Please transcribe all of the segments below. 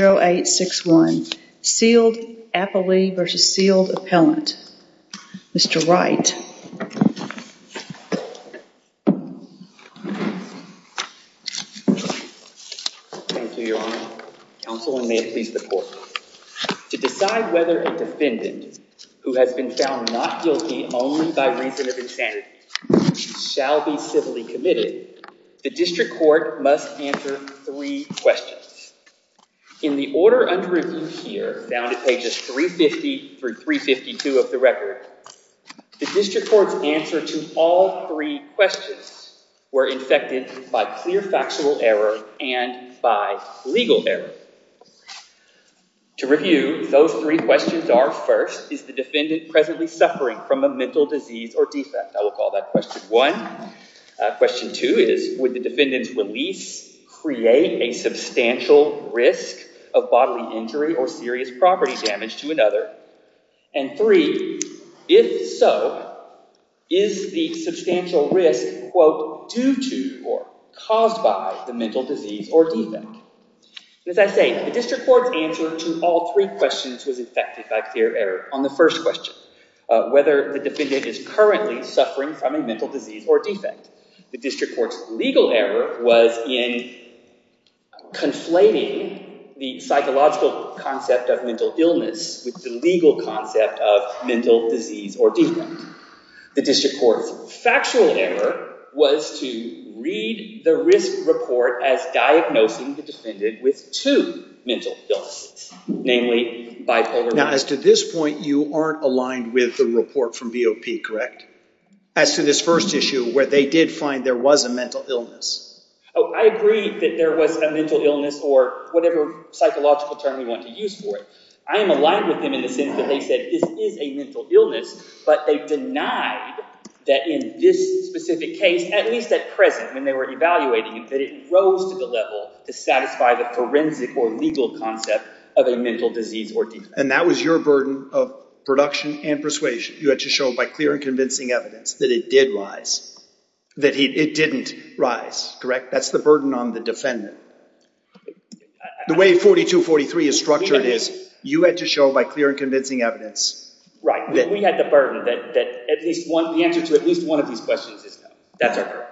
0861 Sealed Appellee v. Sealed Appellant. Mr. Wright. To decide whether a defendant who has been found not guilty only by reason of insanity shall be civilly committed, the court must answer three questions. In the order under review here, found at pages 350 through 352 of the record, the district court's answer to all three questions were infected by clear factual error and by legal error. To review, those three questions are, first, is the defendant presently suffering from a mental disease or defect? I will call that question one. Question two is, would the defendant's release create a substantial risk of bodily injury or serious property damage to another? And three, if so, is the substantial risk, quote, due to or caused by the mental disease or defect? As I say, the district court's answer to all three questions was infected by clear error. On the first question, whether the defendant is currently suffering from a mental disease or defect, the district court's legal error was in conflating the psychological concept of mental illness with the legal concept of mental disease or defect. The district court's factual error was to read the risk report as diagnosing the defendant with two mental illnesses, namely bipolar disorder. Now, as to this point, you aren't aligned with the report from BOP, correct? As to this first issue where they did find there was a mental illness. Oh, I agree that there was a mental illness, or whatever psychological term you want to use for it. I am aligned with them in the sense that they said this is a mental illness, but they denied that in this specific case, at least at present, when they were evaluating it, that it rose to the level to satisfy the forensic or legal concept of a mental disease or defect. And that was your burden of production and persuasion. You had to show by clear and convincing evidence that it did rise, that it didn't rise, correct? That's the burden on the defendant. The way 4243 is structured is, you had to show by clear and convincing evidence. Right, we had the burden that at least one, the answer to at least one of these questions is no. That's our burden.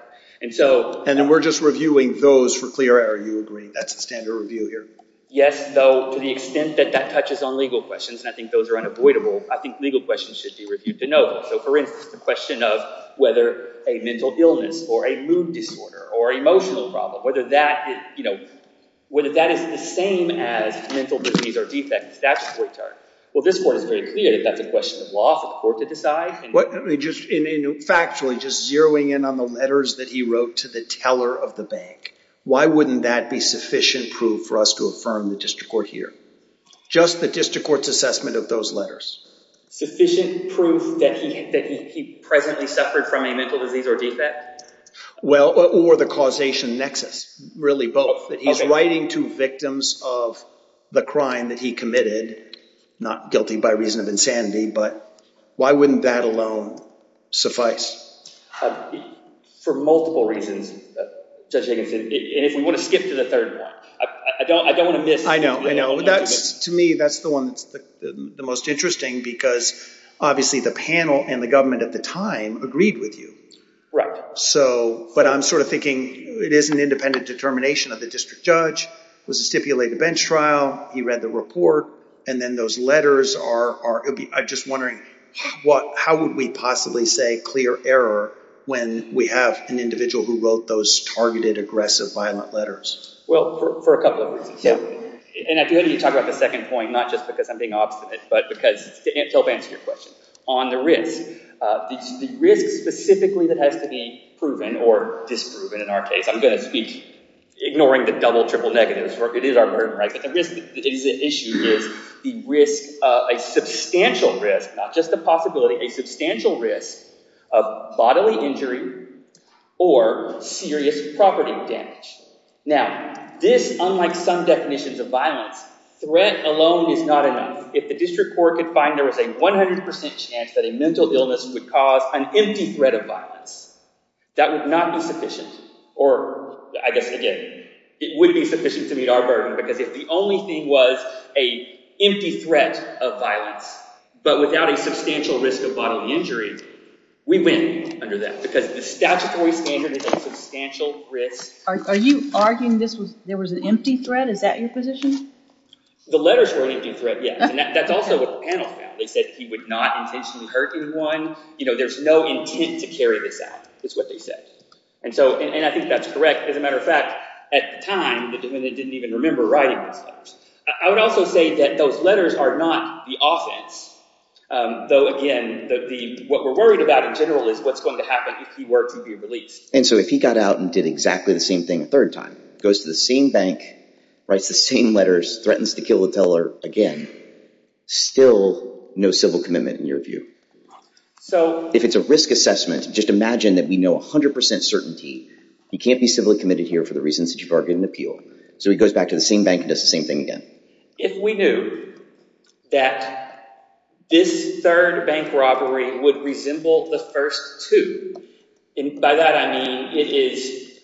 And so... And then we're just reviewing those for clear error, you agree? That's the standard review here? Yes, though to the extent that that touches on legal questions, and I think those are unavoidable, I think legal questions should be reviewed to So for instance, the question of whether a mental illness or a mood disorder or emotional problem, whether that, you know, whether that is the same as mental disease or defect, that's a great turn. Well this court is very clear that that's a question of law for the court to decide. Factually, just zeroing in on the letters that he wrote to the teller of the bank, why wouldn't that be sufficient proof for us to affirm the district court here? Just the district court's assessment of those letters. Sufficient proof that he presently suffered from a mental disease or defect? Well, or the causation nexus, really both, that he's writing to victims of the crime that he committed, not guilty by reason of insanity, but why wouldn't that alone suffice? For multiple reasons, Judge Higginson, and if we want to skip to the third one, I don't want to miss... I know, I know, that's, to me, that's the one that's the most interesting because obviously the panel and the government at the time agreed with you. Right. So, but I'm sort of thinking it is an independent determination of the district judge, was a stipulated bench trial, he read the report, and then those letters are, I'm just wondering what, how would we possibly say clear error when we have an individual who wrote those targeted aggressive violent letters? Well, for a minute, I'm going to talk about the second point, not just because I'm being obstinate, but because it's to help answer your question. On the risk, the risk specifically that has to be proven, or disproven in our case, I'm going to speak ignoring the double-triple negatives. It is our burden, right? The risk that is at issue is the risk, a substantial risk, not just a possibility, a substantial risk of bodily injury or serious property damage. Now, this, unlike some definitions of violence, threat alone is not enough. If the district court could find there was a 100% chance that a mental illness would cause an empty threat of violence, that would not be sufficient, or I guess, again, it would be sufficient to meet our burden because if the only thing was a empty threat of violence, but without a substantial risk of bodily injury, we win under that because the statutory standard is a substantial risk. Are you arguing this was, there was an empty threat? Is that your position? The letters were an empty threat, yes, and that's also what the panel found. They said he would not intentionally hurt anyone. You know, there's no intent to carry this out, is what they said. And so, and I think that's correct. As a matter of fact, at the time, the defendant didn't even remember writing those letters. I would also say that those letters are not the offense, though again, what we're worried about in general is what's going to happen if he were to be released. And so if he got out and did exactly the same thing a third time, goes to the same bank, writes the same letters, threatens to kill the teller again, still no civil commitment in your view. So if it's a risk assessment, just imagine that we know 100% certainty he can't be civilly committed here for the reasons that you've argued in the appeal. So he goes back to the same bank and does the same thing again. If we knew that this third bank robbery would resemble the first two, and by that I mean it is,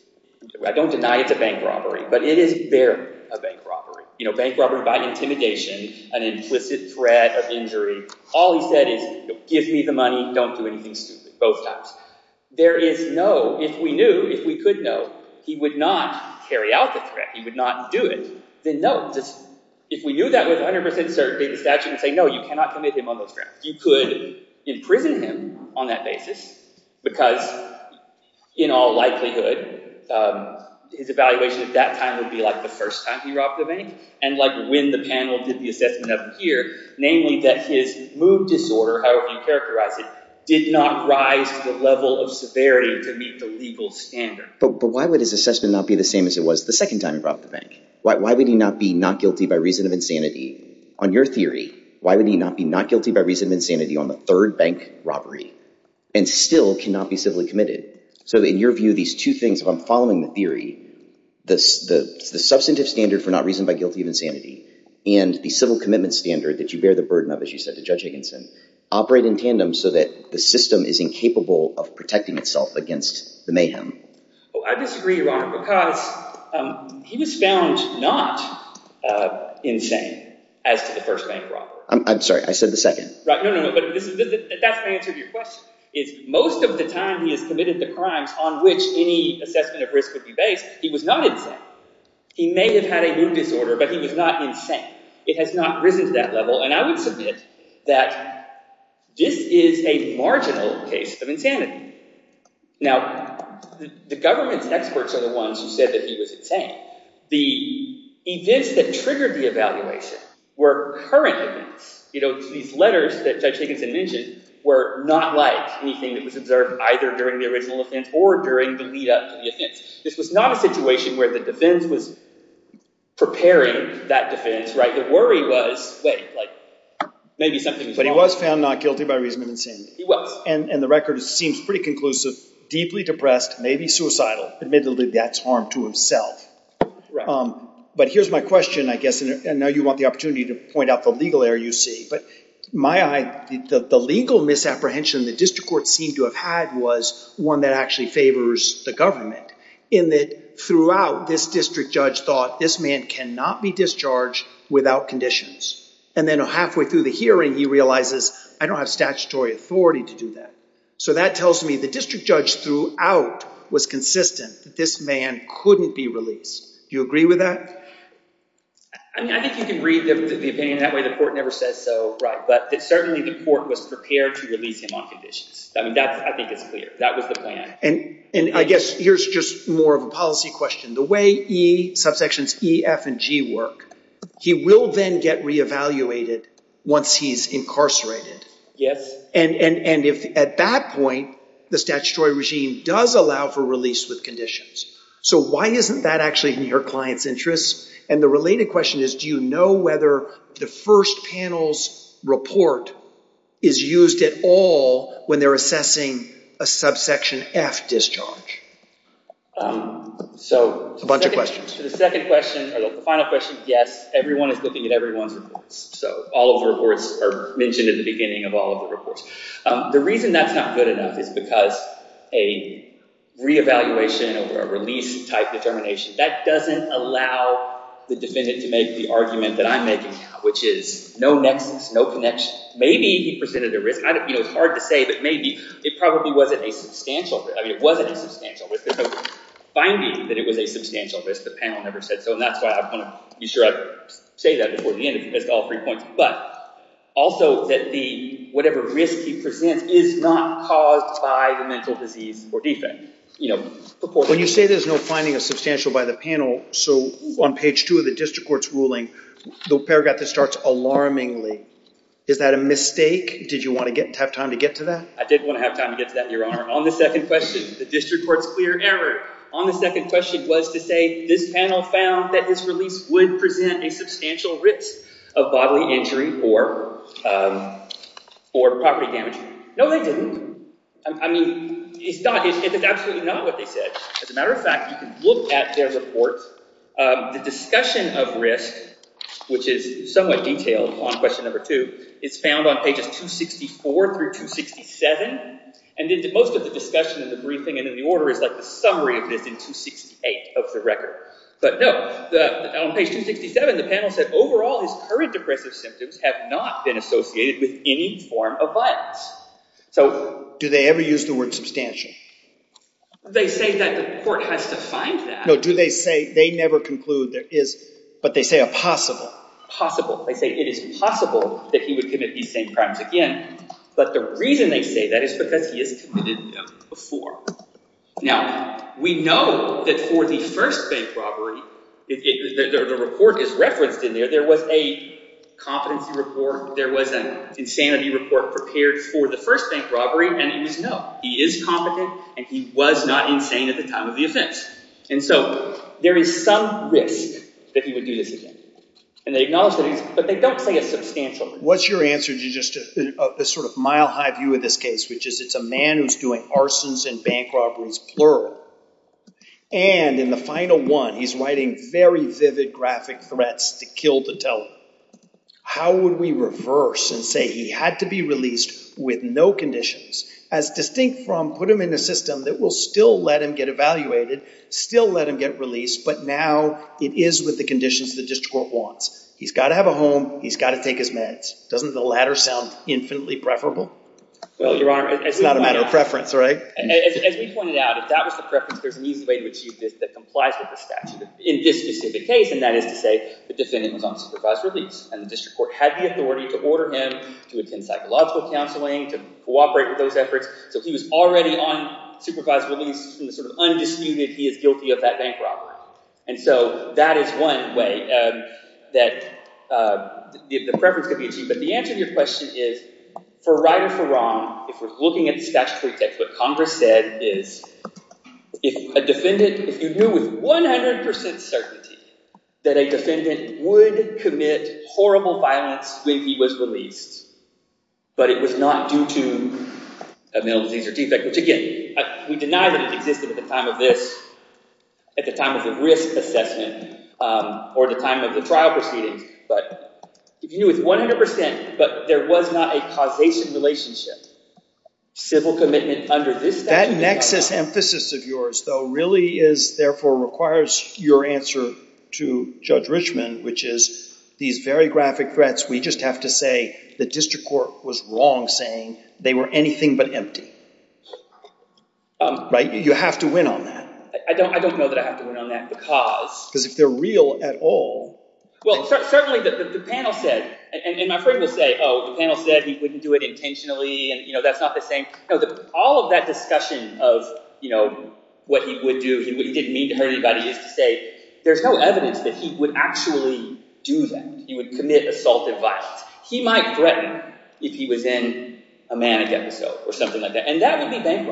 I don't deny it's a bank robbery, but it is barely a bank robbery. You know, bank robbery by intimidation, an implicit threat of injury, all he said is give me the money, don't do anything stupid, both times. There is no, if we knew, if we could know, he would not carry out the threat, he would not do it, then no. If we knew that with 100% certainty, the statute would say no, you would not commit him on those grounds. You could imprison him on that basis, because in all likelihood his evaluation at that time would be like the first time he robbed a bank, and like when the panel did the assessment of him here, namely that his mood disorder, however you characterize it, did not rise to the level of severity to meet the legal standard. But why would his assessment not be the same as it was the second time he robbed a bank? Why would he not be not guilty by reason of insanity? On your theory, why would he not be not guilty by reason of insanity on the third bank robbery, and still cannot be civilly committed? So in your view, these two things, if I'm following the theory, the substantive standard for not reason by guilty of insanity, and the civil commitment standard that you bear the burden of, as you said to Judge Higginson, operate in tandem so that the system is incapable of protecting itself against the mayhem. I disagree, Your Honor, because he was found not insane as to the first bank robbery. I'm sorry, I said the second. That's my answer to your question. Most of the time he has committed the crimes on which any assessment of risk would be based, he was not insane. He may have had a mood disorder, but he was not insane. It has not risen to that level, and I would submit that this is a marginal case of insanity. Now, the government's experts are the ones who said that he was insane. The events that triggered the evaluation were current events. These letters that Judge Higginson mentioned were not like anything that was observed either during the original offense or during the lead-up to the offense. This was not a situation where the defense was preparing that defense. The worry was, wait, maybe something's wrong. But he was found not guilty by reason of insanity. He was. And the record seems pretty conclusive. Deeply depressed, maybe suicidal. Admittedly, that's harm to himself. But here's my question, I guess, and I know you want the opportunity to point out the legal error you see. But in my eye, the legal misapprehension the district court seemed to have had was one that actually favors the government, in that throughout, this district judge thought this man cannot be discharged without conditions. And then halfway through the hearing, he realizes, I don't have statutory authority to do that. So that tells me the district judge throughout was consistent that this man couldn't be released. Do you agree with that? I mean, I think you can read the opinion that way. The court never says so. But certainly the court was prepared to release him on conditions. I mean, I think it's clear. That was the plan. And I guess here's just more of a policy question. The way E, subsections E, F, and G work, he will then get reevaluated once he's incarcerated. Yes. And at that point, the statutory regime does allow for release with conditions. So why isn't that actually in your client's interest? And the related question is, do you know whether the first panel's report is used at all when they're assessing a subsection F discharge? A bunch of questions. The second question, or the final question, yes, everyone is looking at everyone's reports. So all of the reports are mentioned at the beginning of all of the reports. The reason that's not good enough is because a reevaluation or a release-type determination, that doesn't allow the defendant to make the argument that I'm making now, which is no nexus, no connection. Maybe he presented a risk. It's hard to say, but maybe. It probably wasn't a substantial risk. I mean, it wasn't a substantial risk. There's no finding that it was a substantial risk. The panel never said so, and that's why I want to be sure I say that before the end, if you missed all three points. But also that whatever risk he presents is not caused by the mental disease or defense. When you say there's no finding of substantial by the panel, so on page two of the district court's ruling, the paragraph that starts, Is that a mistake? Did you want to have time to get to that? I did want to have time to get to that, Your Honor. On the second question, the district court's clear error on the second question was to say, this panel found that his release would present a substantial risk of bodily injury or property damage. No, they didn't. I mean, it's absolutely not what they said. As a matter of fact, you can look at their report. The discussion of risk, which is somewhat detailed on question number two, is found on pages 264 through 267. And most of the discussion in the briefing and in the order is like the summary of this in 268 of the record. But no, on page 267, the panel said, overall, his current depressive symptoms have not been associated with any form of violence. Do they ever use the word substantial? They say that the court has to find that. No, do they say, they never conclude there is, but they say a possible. Possible. They say it is possible that he would commit these same crimes again. But the reason they say that is because he has committed them before. Now, we know that for the first bank robbery, the report is referenced in there. There was a competency report. There was an insanity report prepared for the first bank robbery. And it was no, he is competent and he was not insane at the time of the offense. And so there is some risk that he would do this again. And they acknowledge that he's, but they don't say a substantial risk. What's your answer to just a sort of mile high view of this case, which is it's a man who's doing arsons and bank robberies, plural. And in the final one, he's writing very vivid graphic threats to kill the teller. How would we reverse and say he had to be released with no conditions, as distinct from put him in a system that will still let him get evaluated, still let him get released. But now it is with the conditions the district court wants. He's got to have a home. He's got to take his meds. Doesn't the latter sound infinitely preferable? Well, Your Honor, it's not a matter of preference, right? As we pointed out, if that was the preference, there's an easy way to achieve this that complies with the statute. In this specific case, and that is to say the defendant was on supervised release. And the district court had the authority to order him to attend psychological counseling, to cooperate with those efforts. So he was already on supervised release in the sort of undisputed he is guilty of that bank robbery. And so that is one way that the preference could be achieved. But the answer to your question is, for right or for wrong, if we're looking at the statutory text, what Congress said is, if a defendant, if you knew with 100% certainty that a defendant would commit horrible violence when he was released, but it was not due to a mental disease or defect, which again, we deny that it existed at the time of this, at the time of the risk assessment, or the time of the trial proceedings. But if you knew with 100%, but there was not a causation relationship, civil commitment under this statute. That nexus emphasis of yours, though, really is, therefore, requires your answer to Judge Richman, which is these very graphic threats. We just have to say the district court was wrong saying they were anything but empty. Right? You have to win on that. I don't know that I have to win on that because. Because if they're real at all. Well, certainly the panel said, and my friend will say, oh, the panel said he wouldn't do it intentionally, and that's not the same. All of that discussion of what he would do, he didn't mean to hurt anybody, is to say there's no evidence that he would actually do that. He would commit assault and violence. He might threaten if he was in a manic episode or something like that, and that would be bank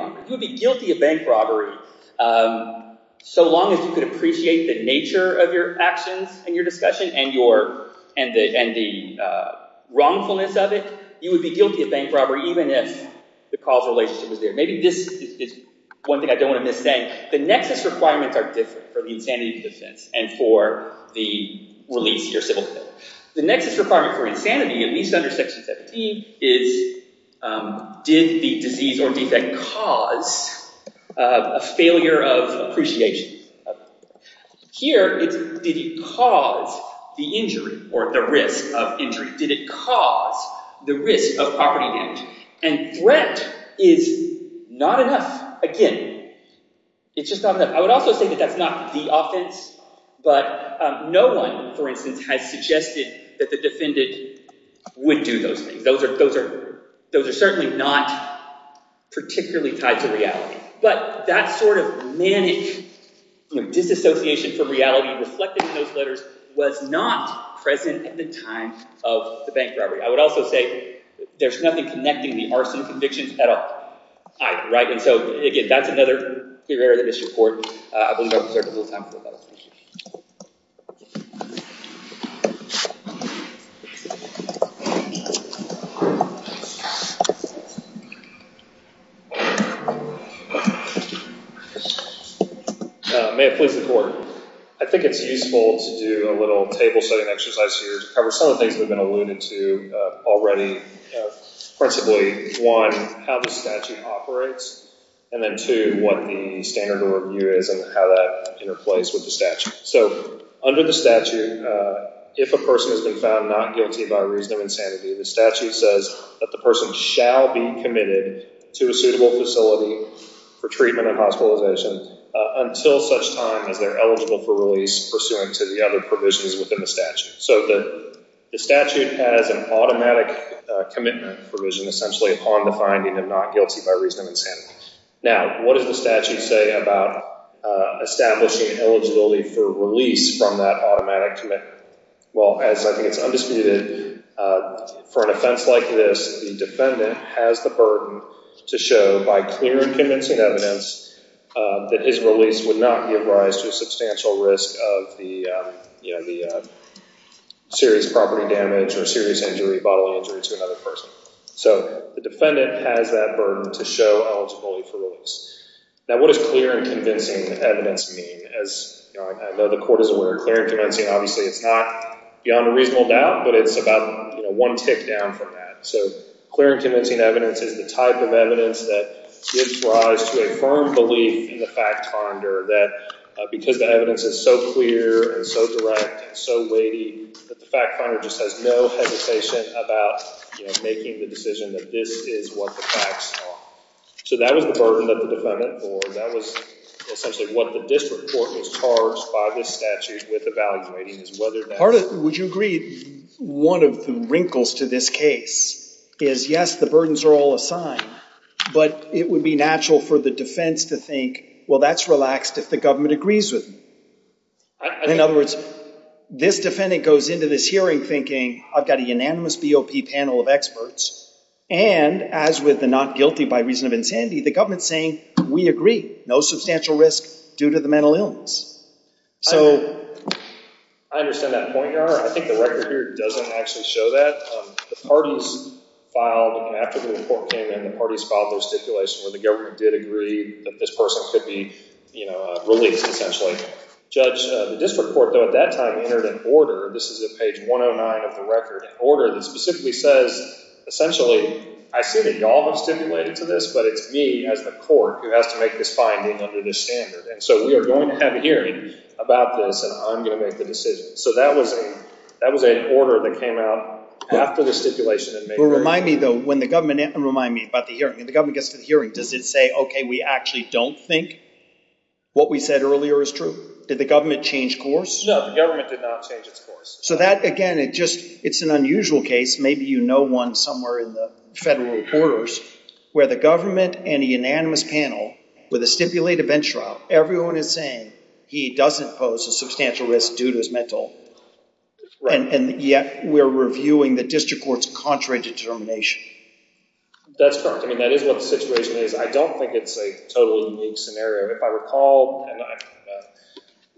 robbery. So long as you could appreciate the nature of your actions in your discussion and the wrongfulness of it, you would be guilty of bank robbery even if the causal relationship was there. Maybe this is one thing I don't want to miss saying. The nexus requirements are different for the insanity defense and for the release your civil commitment. The nexus requirement for insanity, at least under Section 17, is did the disease or defect cause a failure of appreciation? Here, it's did it cause the injury or the risk of injury? Did it cause the risk of property damage? And threat is not enough. Again, it's just not enough. I would also say that that's not the offense, but no one, for instance, has suggested that the defendant would do those things. Those are certainly not particularly tied to reality. But that sort of manic disassociation from reality reflected in those letters was not present at the time of the bank robbery. I would also say there's nothing connecting the arson convictions at all either. And so, again, that's another area that missed your report. I believe I've reserved a little time for that. May it please the Court. I think it's useful to do a little table-setting exercise here to cover some of the things we've been alluding to already. Principally, one, how the statute operates. And then, two, what the standard of review is and how that interplays with the statute. So, under the statute, if a person has been found not guilty by reason of insanity, the statute says that the person shall be committed to a suitable facility for treatment and hospitalization until such time as they're eligible for release pursuant to the other provisions within the statute. So the statute has an automatic commitment provision essentially upon the finding of not guilty by reason of insanity. Now, what does the statute say about establishing eligibility for release from that automatic commitment? Well, as I think it's undisputed, for an offense like this, the defendant has the burden to show by clear and convincing evidence that his release would not give rise to a substantial risk of the serious property damage or serious bodily injury to another person. So the defendant has that burden to show eligibility for release. Now, what does clear and convincing evidence mean? As I know the court is aware, clear and convincing, obviously, it's not beyond a reasonable doubt, but it's about one tick down from that. So clear and convincing evidence is the type of evidence that gives rise to a firm belief in the fact finder that because the evidence is so clear and so direct and so weighty that the fact finder just has no hesitation about making the decision that this is what the facts are. So that was the burden that the defendant bore. That was essentially what the district court was charged by this statute with evaluating, is whether that's— Would you agree one of the wrinkles to this case is, yes, the burdens are all assigned, but it would be natural for the defense to think, well, that's relaxed if the government agrees with me. In other words, this defendant goes into this hearing thinking, I've got a unanimous BOP panel of experts, and as with the not guilty by reason of insanity, the government's saying, we agree, no substantial risk due to the mental illness. I understand that point, Your Honor. I think the record here doesn't actually show that. The parties filed—after the report came in, the parties filed their stipulation where the government did agree that this person could be released essentially. Judge, the district court, though, at that time entered an order—this is at page 109 of the record—an order that specifically says, essentially, I see that y'all have stipulated to this, but it's me as the court who has to make this finding under this standard. And so we are going to have a hearing about this, and I'm going to make the decision. So that was an order that came out after the stipulation. Remind me, though, when the government—remind me about the hearing. When the government gets to the hearing, does it say, okay, we actually don't think what we said earlier is true? Did the government change course? No, the government did not change its course. So that, again, it just—it's an unusual case. Maybe you know one somewhere in the federal orders where the government and a unanimous panel with a stipulated bench trial, everyone is saying he doesn't pose a substantial risk due to his mental— And yet we're reviewing the district court's contrary determination. That's correct. I mean, that is what the situation is. I don't think it's a totally unique scenario. If I recall, and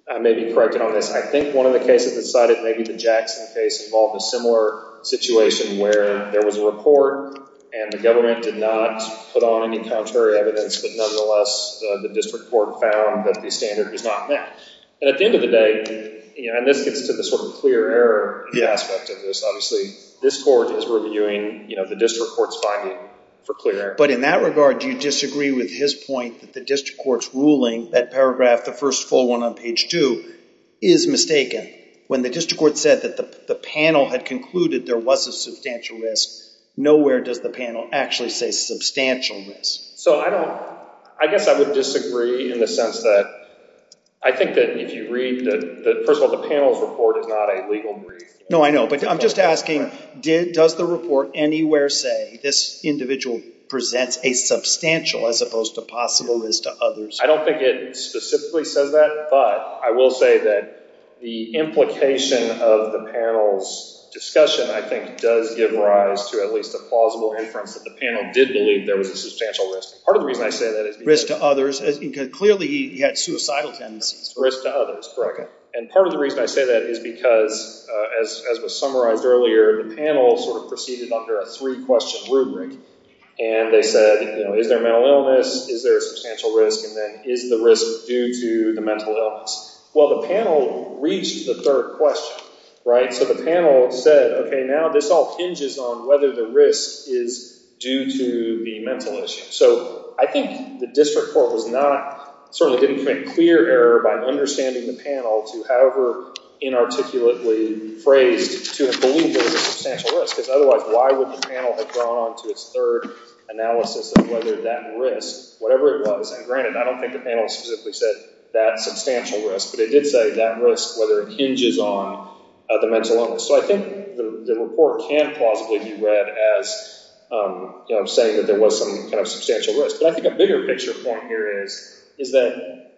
I may be corrected on this, I think one of the cases that cited maybe the Jackson case involved a similar situation where there was a report and the government did not put on any contrary evidence, but nonetheless the district court found that the standard was not met. And at the end of the day—and this gets to the sort of clear error aspect of this, obviously. This court is reviewing the district court's finding for clear error. But in that regard, do you disagree with his point that the district court's ruling, that paragraph, the first full one on page 2, is mistaken? When the district court said that the panel had concluded there was a substantial risk, nowhere does the panel actually say substantial risk. So I don't—I guess I would disagree in the sense that I think that if you read the—first of all, the panel's report is not a legal brief. No, I know. But I'm just asking, does the report anywhere say this individual presents a substantial as opposed to possible risk to others? I don't think it specifically says that. But I will say that the implication of the panel's discussion I think does give rise to at least a plausible inference that the panel did believe there was a substantial risk. Part of the reason I say that is because— Risk to others. Clearly he had suicidal tendencies. Risk to others, correct. And part of the reason I say that is because, as was summarized earlier, the panel sort of proceeded under a three-question rubric. And they said, you know, is there mental illness, is there a substantial risk, and then is the risk due to the mental illness? Well, the panel reached the third question, right? So the panel said, okay, now this all hinges on whether the risk is due to the mental issue. So I think the district court was not—certainly didn't commit clear error by understanding the panel to, however inarticulately phrased, to believe there was a substantial risk. Because otherwise why would the panel have gone on to its third analysis of whether that risk, whatever it was—and granted, I don't think the panel specifically said that substantial risk. But it did say that risk, whether it hinges on the mental illness. So I think the report can plausibly be read as saying that there was some kind of substantial risk. But I think a bigger picture point here is that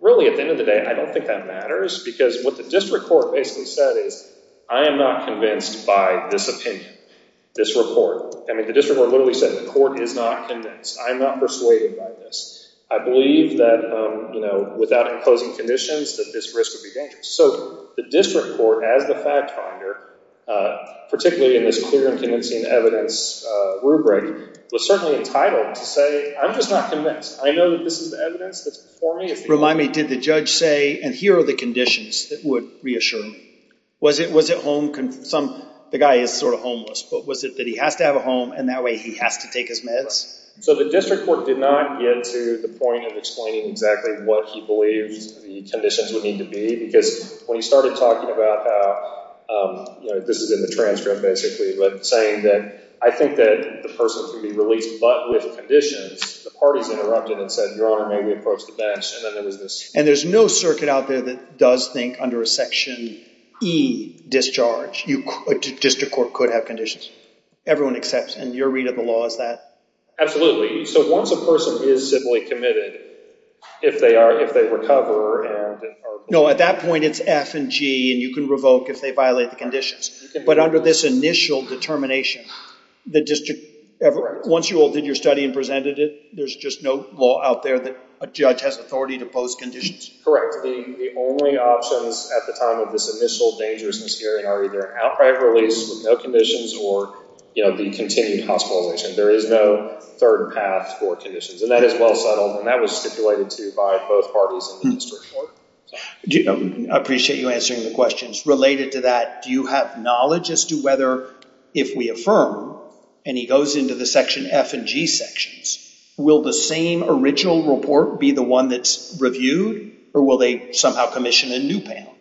really at the end of the day I don't think that matters. Because what the district court basically said is I am not convinced by this opinion, this report. I mean the district court literally said the court is not convinced. I am not persuaded by this. I believe that, you know, without imposing conditions that this risk would be dangerous. So the district court as the fact finder, particularly in this clear and convincing evidence rubric, was certainly entitled to say I'm just not convinced. I know that this is the evidence that's before me. Remind me, did the judge say and here are the conditions that would reassure me? Was it home—the guy is sort of homeless, but was it that he has to have a home and that way he has to take his meds? So the district court did not get to the point of explaining exactly what he believes the conditions would need to be. Because when he started talking about how, you know, this is in the transcript basically, but saying that I think that the person can be released but with conditions, the parties interrupted and said, Your Honor, may we approach the bench? And then there was this— And there's no circuit out there that does think under a Section E discharge a district court could have conditions. Everyone accepts. And your read of the law is that? Absolutely. So once a person is civilly committed, if they are—if they recover and are— No, at that point it's F and G and you can revoke if they violate the conditions. But under this initial determination, the district— Correct. Once you all did your study and presented it, there's just no law out there that a judge has authority to impose conditions. Correct. The only options at the time of this initial dangerousness hearing are either outright release with no conditions or, you know, the continued hospitalization. There is no third path for conditions. And that is well settled. And that was stipulated to by both parties in the district court. I appreciate you answering the questions. Related to that, do you have knowledge as to whether if we affirm, and he goes into the Section F and G sections, will the same original report be the one that's reviewed or will they somehow commission a new panel?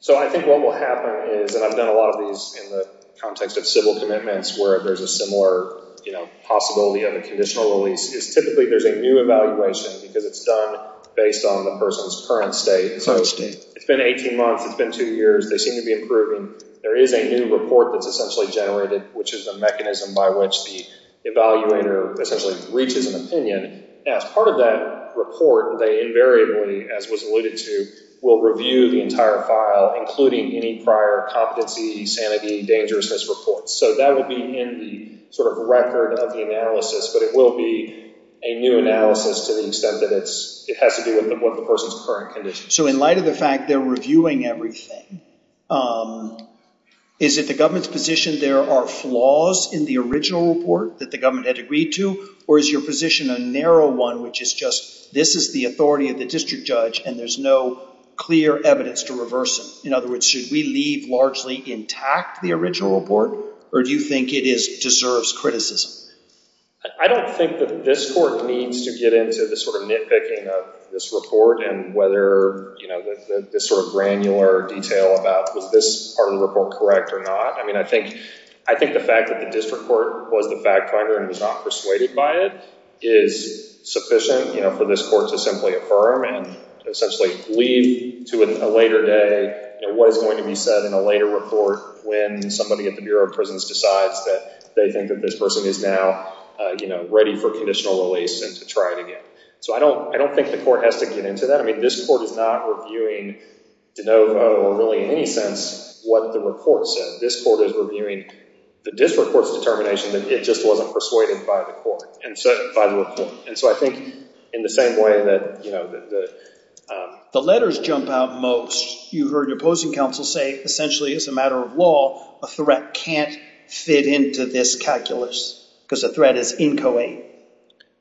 So I think what will happen is—and I've done a lot of these in the context of civil commitments where there's a similar, you know, possibility of a conditional release— is typically there's a new evaluation because it's done based on the person's current state. It's been 18 months. It's been two years. They seem to be improving. There is a new report that's essentially generated, which is the mechanism by which the evaluator essentially reaches an opinion. As part of that report, they invariably, as was alluded to, will review the entire file, including any prior competency, sanity, dangerousness reports. So that will be in the sort of record of the analysis, but it will be a new analysis to the extent that it has to do with the person's current condition. So in light of the fact they're reviewing everything, is it the government's position there are flaws in the original report that the government had agreed to, or is your position a narrow one which is just this is the authority of the district judge and there's no clear evidence to reverse it? In other words, should we leave largely intact the original report, or do you think it deserves criticism? I don't think that this court needs to get into the sort of nitpicking of this report and whether this sort of granular detail about was this part of the report correct or not. I think the fact that the district court was the fact finder and was not persuaded by it is sufficient for this court to simply affirm and essentially leave to a later day what is going to be said in a later report when somebody at the Bureau of Prisons decides that they think that this person is now ready for conditional release and to try it again. So I don't think the court has to get into that. I mean this court is not reviewing de novo or really in any sense what the report said. This court is reviewing the district court's determination that it just wasn't persuaded by the report. The letters jump out most. You heard your opposing counsel say essentially as a matter of law, a threat can't fit into this calculus because the threat is inchoate.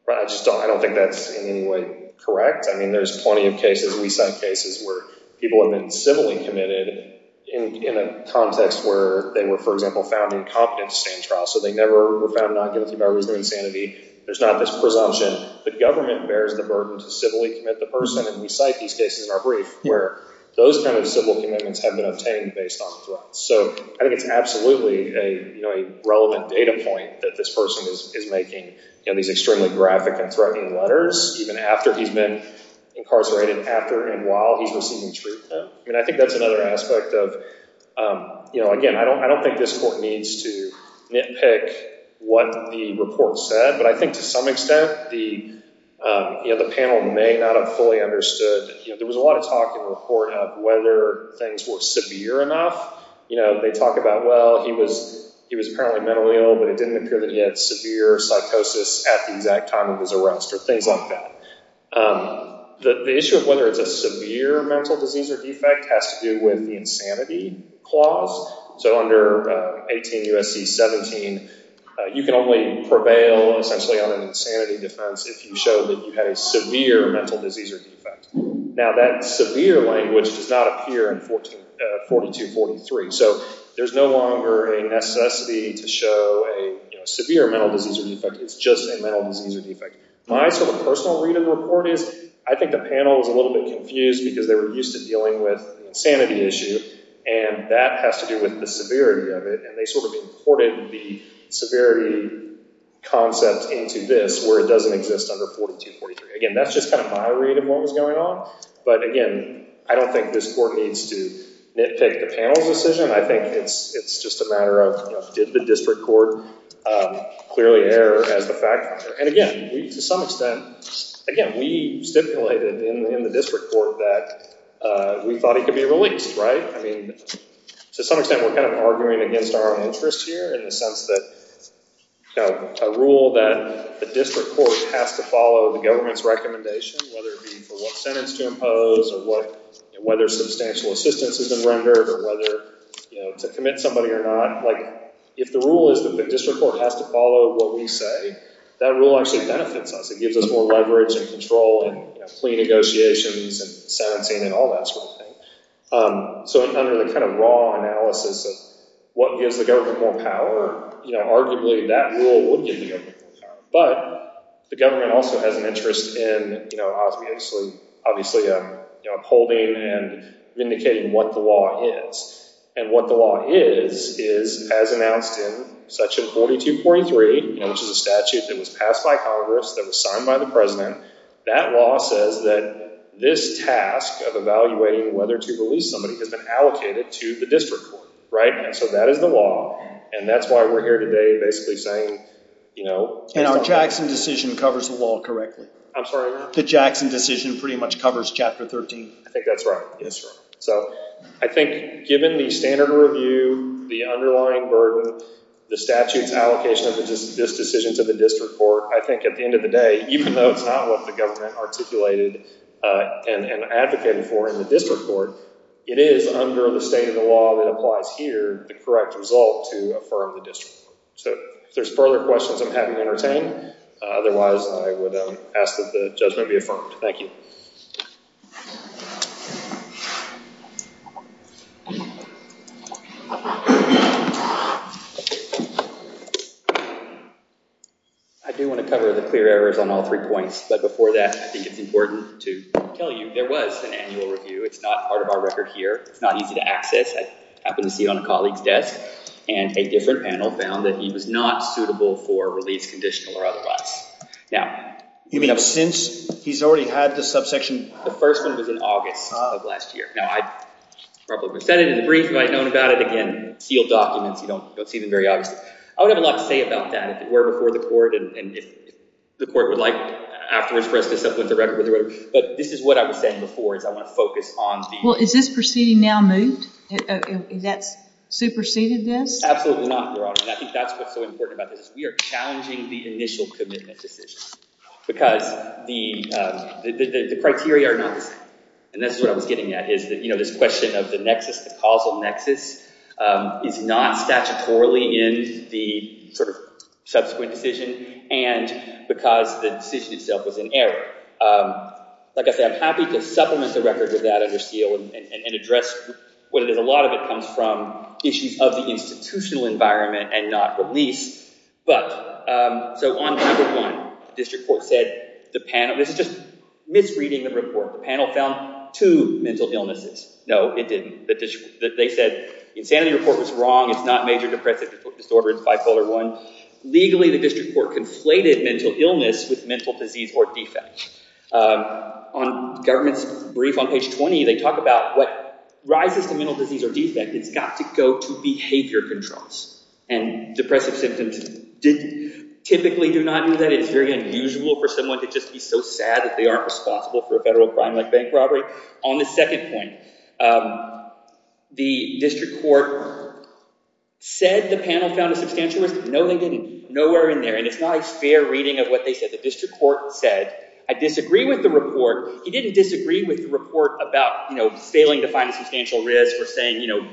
I don't think that's in any way correct. I mean there's plenty of cases. We cite cases where people have been civilly committed in a context where they were for example found incompetent to stand trial. So they never were found not guilty by reason of insanity. There's not this presumption. The government bears the burden to civilly commit the person and we cite these cases in our brief where those kind of civil commitments have been obtained based on threats. So I think it's absolutely a relevant data point that this person is making these extremely graphic and threatening letters even after he's been incarcerated, after and while he's receiving treatment. I mean I think that's another aspect of, again I don't think this court needs to nitpick what the report said. But I think to some extent the panel may not have fully understood. There was a lot of talk in the report of whether things were severe enough. They talk about well he was apparently mentally ill but it didn't appear that he had severe psychosis at the exact time of his arrest or things like that. The issue of whether it's a severe mental disease or defect has to do with the insanity clause. So under 18 U.S.C. 17 you can only prevail essentially on an insanity defense if you show that you had a severe mental disease or defect. Now that severe language does not appear in 42-43. So there's no longer a necessity to show a severe mental disease or defect. It's just a mental disease or defect. My sort of personal read of the report is I think the panel was a little bit confused because they were used to dealing with an insanity issue. And that has to do with the severity of it. And they sort of imported the severity concept into this where it doesn't exist under 42-43. Again that's just kind of my read of what was going on. But again I don't think this court needs to nitpick the panel's decision. I think it's just a matter of did the district court clearly err as the fact finder. And again to some extent, again we stipulated in the district court that we thought he could be released. I mean to some extent we're kind of arguing against our own interests here in the sense that a rule that the district court has to follow the government's recommendation. Whether it be for what sentence to impose or whether substantial assistance has been rendered or whether to commit somebody or not. If the rule is that the district court has to follow what we say, that rule actually benefits us. It gives us more leverage and control and plea negotiations and sentencing and all that sort of thing. So under the kind of raw analysis of what gives the government more power, arguably that rule would give the government more power. But the government also has an interest in obviously upholding and vindicating what the law is. And what the law is, is as announced in section 4243, which is a statute that was passed by Congress, that was signed by the President. That law says that this task of evaluating whether to release somebody has been allocated to the district court. Right? So that is the law. And that's why we're here today basically saying, you know... And our Jackson decision covers the law correctly. I'm sorry? The Jackson decision pretty much covers Chapter 13. I think that's right. So I think given the standard review, the underlying burden, the statute's allocation of this decision to the district court, I think at the end of the day, even though it's not what the government articulated and advocated for in the district court, it is under the state of the law that applies here the correct result to affirm the district court. So if there's further questions, I'm happy to entertain. Otherwise, I would ask that the judgment be affirmed. Thank you. I do want to cover the clear errors on all three points. But before that, I think it's important to tell you there was an annual review. It's not part of our record here. It's not easy to access. I happen to see it on a colleague's desk. And a different panel found that he was not suitable for release, conditional or otherwise. Now... You mean since he's already had the subsection? The first one was in August of last year. Now, I probably would have said it in the brief if I had known about it. Again, sealed documents. You don't see them very often. I would have a lot to say about that if it were before the court and if the court would like afterwards for us to supplement the record. But this is what I was saying before is I want to focus on the... Well, is this proceeding now moved? Has that superseded this? Absolutely not, Your Honor. And I think that's what's so important about this. We are challenging the initial commitment decision. Because the criteria are not the same. And this is what I was getting at. This question of the nexus, the causal nexus, is not statutorily in the subsequent decision. And because the decision itself was in error. Like I said, I'm happy to supplement the record with that under seal and address what a lot of it comes from. Issues of the institutional environment and not release. So on page one, the district court said... This is just misreading the report. The panel found two mental illnesses. No, it didn't. They said the insanity report was wrong. It's not major depressive disorder. It's bipolar I. Legally, the district court conflated mental illness with mental disease or defect. On the government's brief on page 20, they talk about what rises to mental disease or defect. It's got to go to behavior controls. And depressive symptoms typically do not do that. It's very unusual for someone to just be so sad that they aren't responsible for a federal crime like bank robbery. On the second point, the district court said the panel found a substantial risk. No, they didn't. Nowhere in there. And it's not a fair reading of what they said. The district court said, I disagree with the report. He didn't disagree with the report about, you know, failing to find a substantial risk.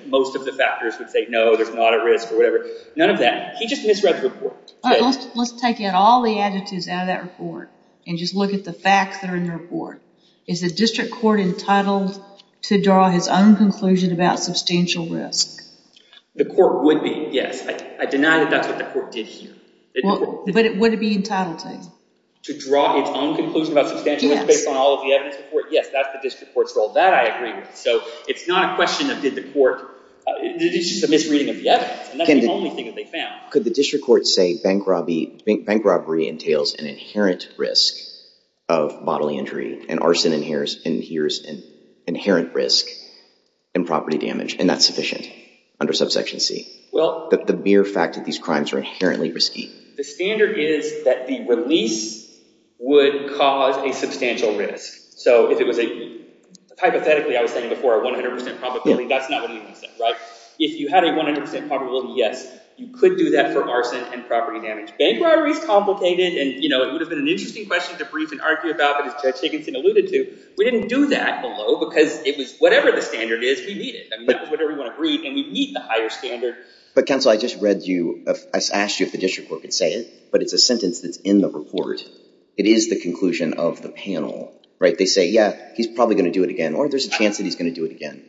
Most of the factors would say, no, there's not a risk or whatever. None of that. He just misread the report. Let's take out all the attitudes out of that report and just look at the facts that are in the report. Is the district court entitled to draw his own conclusion about substantial risk? The court would be, yes. I deny that that's what the court did here. But would it be entitled to? To draw its own conclusion about substantial risk based on all of the evidence before it? Yes, that's the district court's role. That I agree with. So it's not a question of did the court—it's just a misreading of the evidence. And that's the only thing that they found. Could the district court say bank robbery entails an inherent risk of bodily injury and arson inheres an inherent risk in property damage, and that's sufficient under subsection C? Well— The mere fact that these crimes are inherently risky. The standard is that the release would cause a substantial risk. So if it was a—hypothetically, I was saying before a 100% probability, that's not what he said, right? If you had a 100% probability, yes, you could do that for arson and property damage. Bank robbery is complicated, and it would have been an interesting question to brief and argue about, but as Judge Higginson alluded to, we didn't do that below because it was whatever the standard is, we need it. That was whatever we want to brief, and we need the higher standard. But counsel, I just read you—I asked you if the district court could say it, but it's a sentence that's in the report. It is the conclusion of the panel, right? They say, yeah, he's probably going to do it again, or there's a chance that he's going to do it again,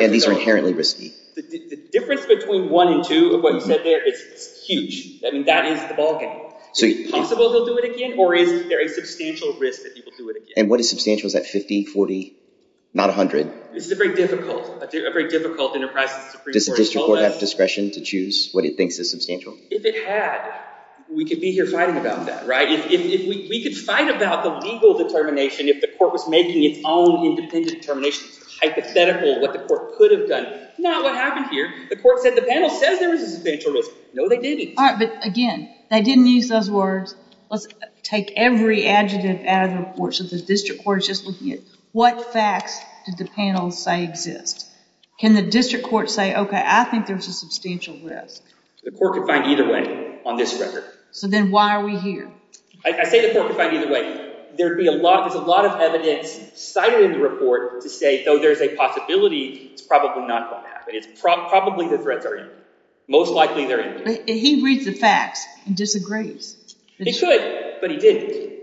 and these are inherently risky. The difference between 1 and 2 of what you said there is huge. I mean, that is the ballgame. Is it possible he'll do it again, or is there a substantial risk that he will do it again? And what is substantial? Is that 50, 40, not 100? This is a very difficult—a very difficult enterprise. Does the district court have discretion to choose what it thinks is substantial? If it had, we could be here fighting about that, right? If we could fight about the legal determination, if the court was making its own independent determination, hypothetical, what the court could have done. Not what happened here. The court said the panel says there was a substantial risk. No, they didn't. All right, but again, they didn't use those words. Let's take every adjective out of the report. So the district court is just looking at what facts did the panel say exist? Can the district court say, okay, I think there's a substantial risk? The court could find either way on this record. So then why are we here? I say the court could find either way. There's a lot of evidence cited in the report to say, though there's a possibility, it's probably not going to happen. It's probably the threats are in. Most likely they're in. He reads the facts and disagrees. He should, but he didn't.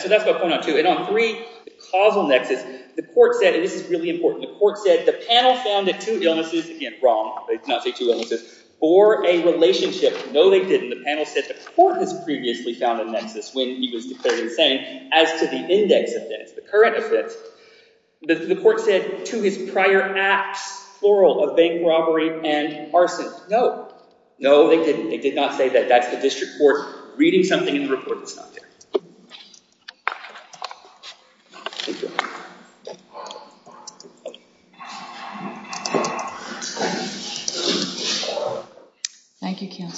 So that's my point on two. And on three, the causal nexus, the court said—and this is really important—the court said the panel found that two illnesses—again, wrong. They did not say two illnesses. Or a relationship. No, they didn't. The panel said the court has previously found a nexus when he was declared insane. As to the index of this, the current of this, the court said to his prior acts, plural, of bank robbery and arson. No. No, they didn't. They did not say that. That's the district court reading something in the report that's not there. Thank you. Thank you, Kiyosu. Okay.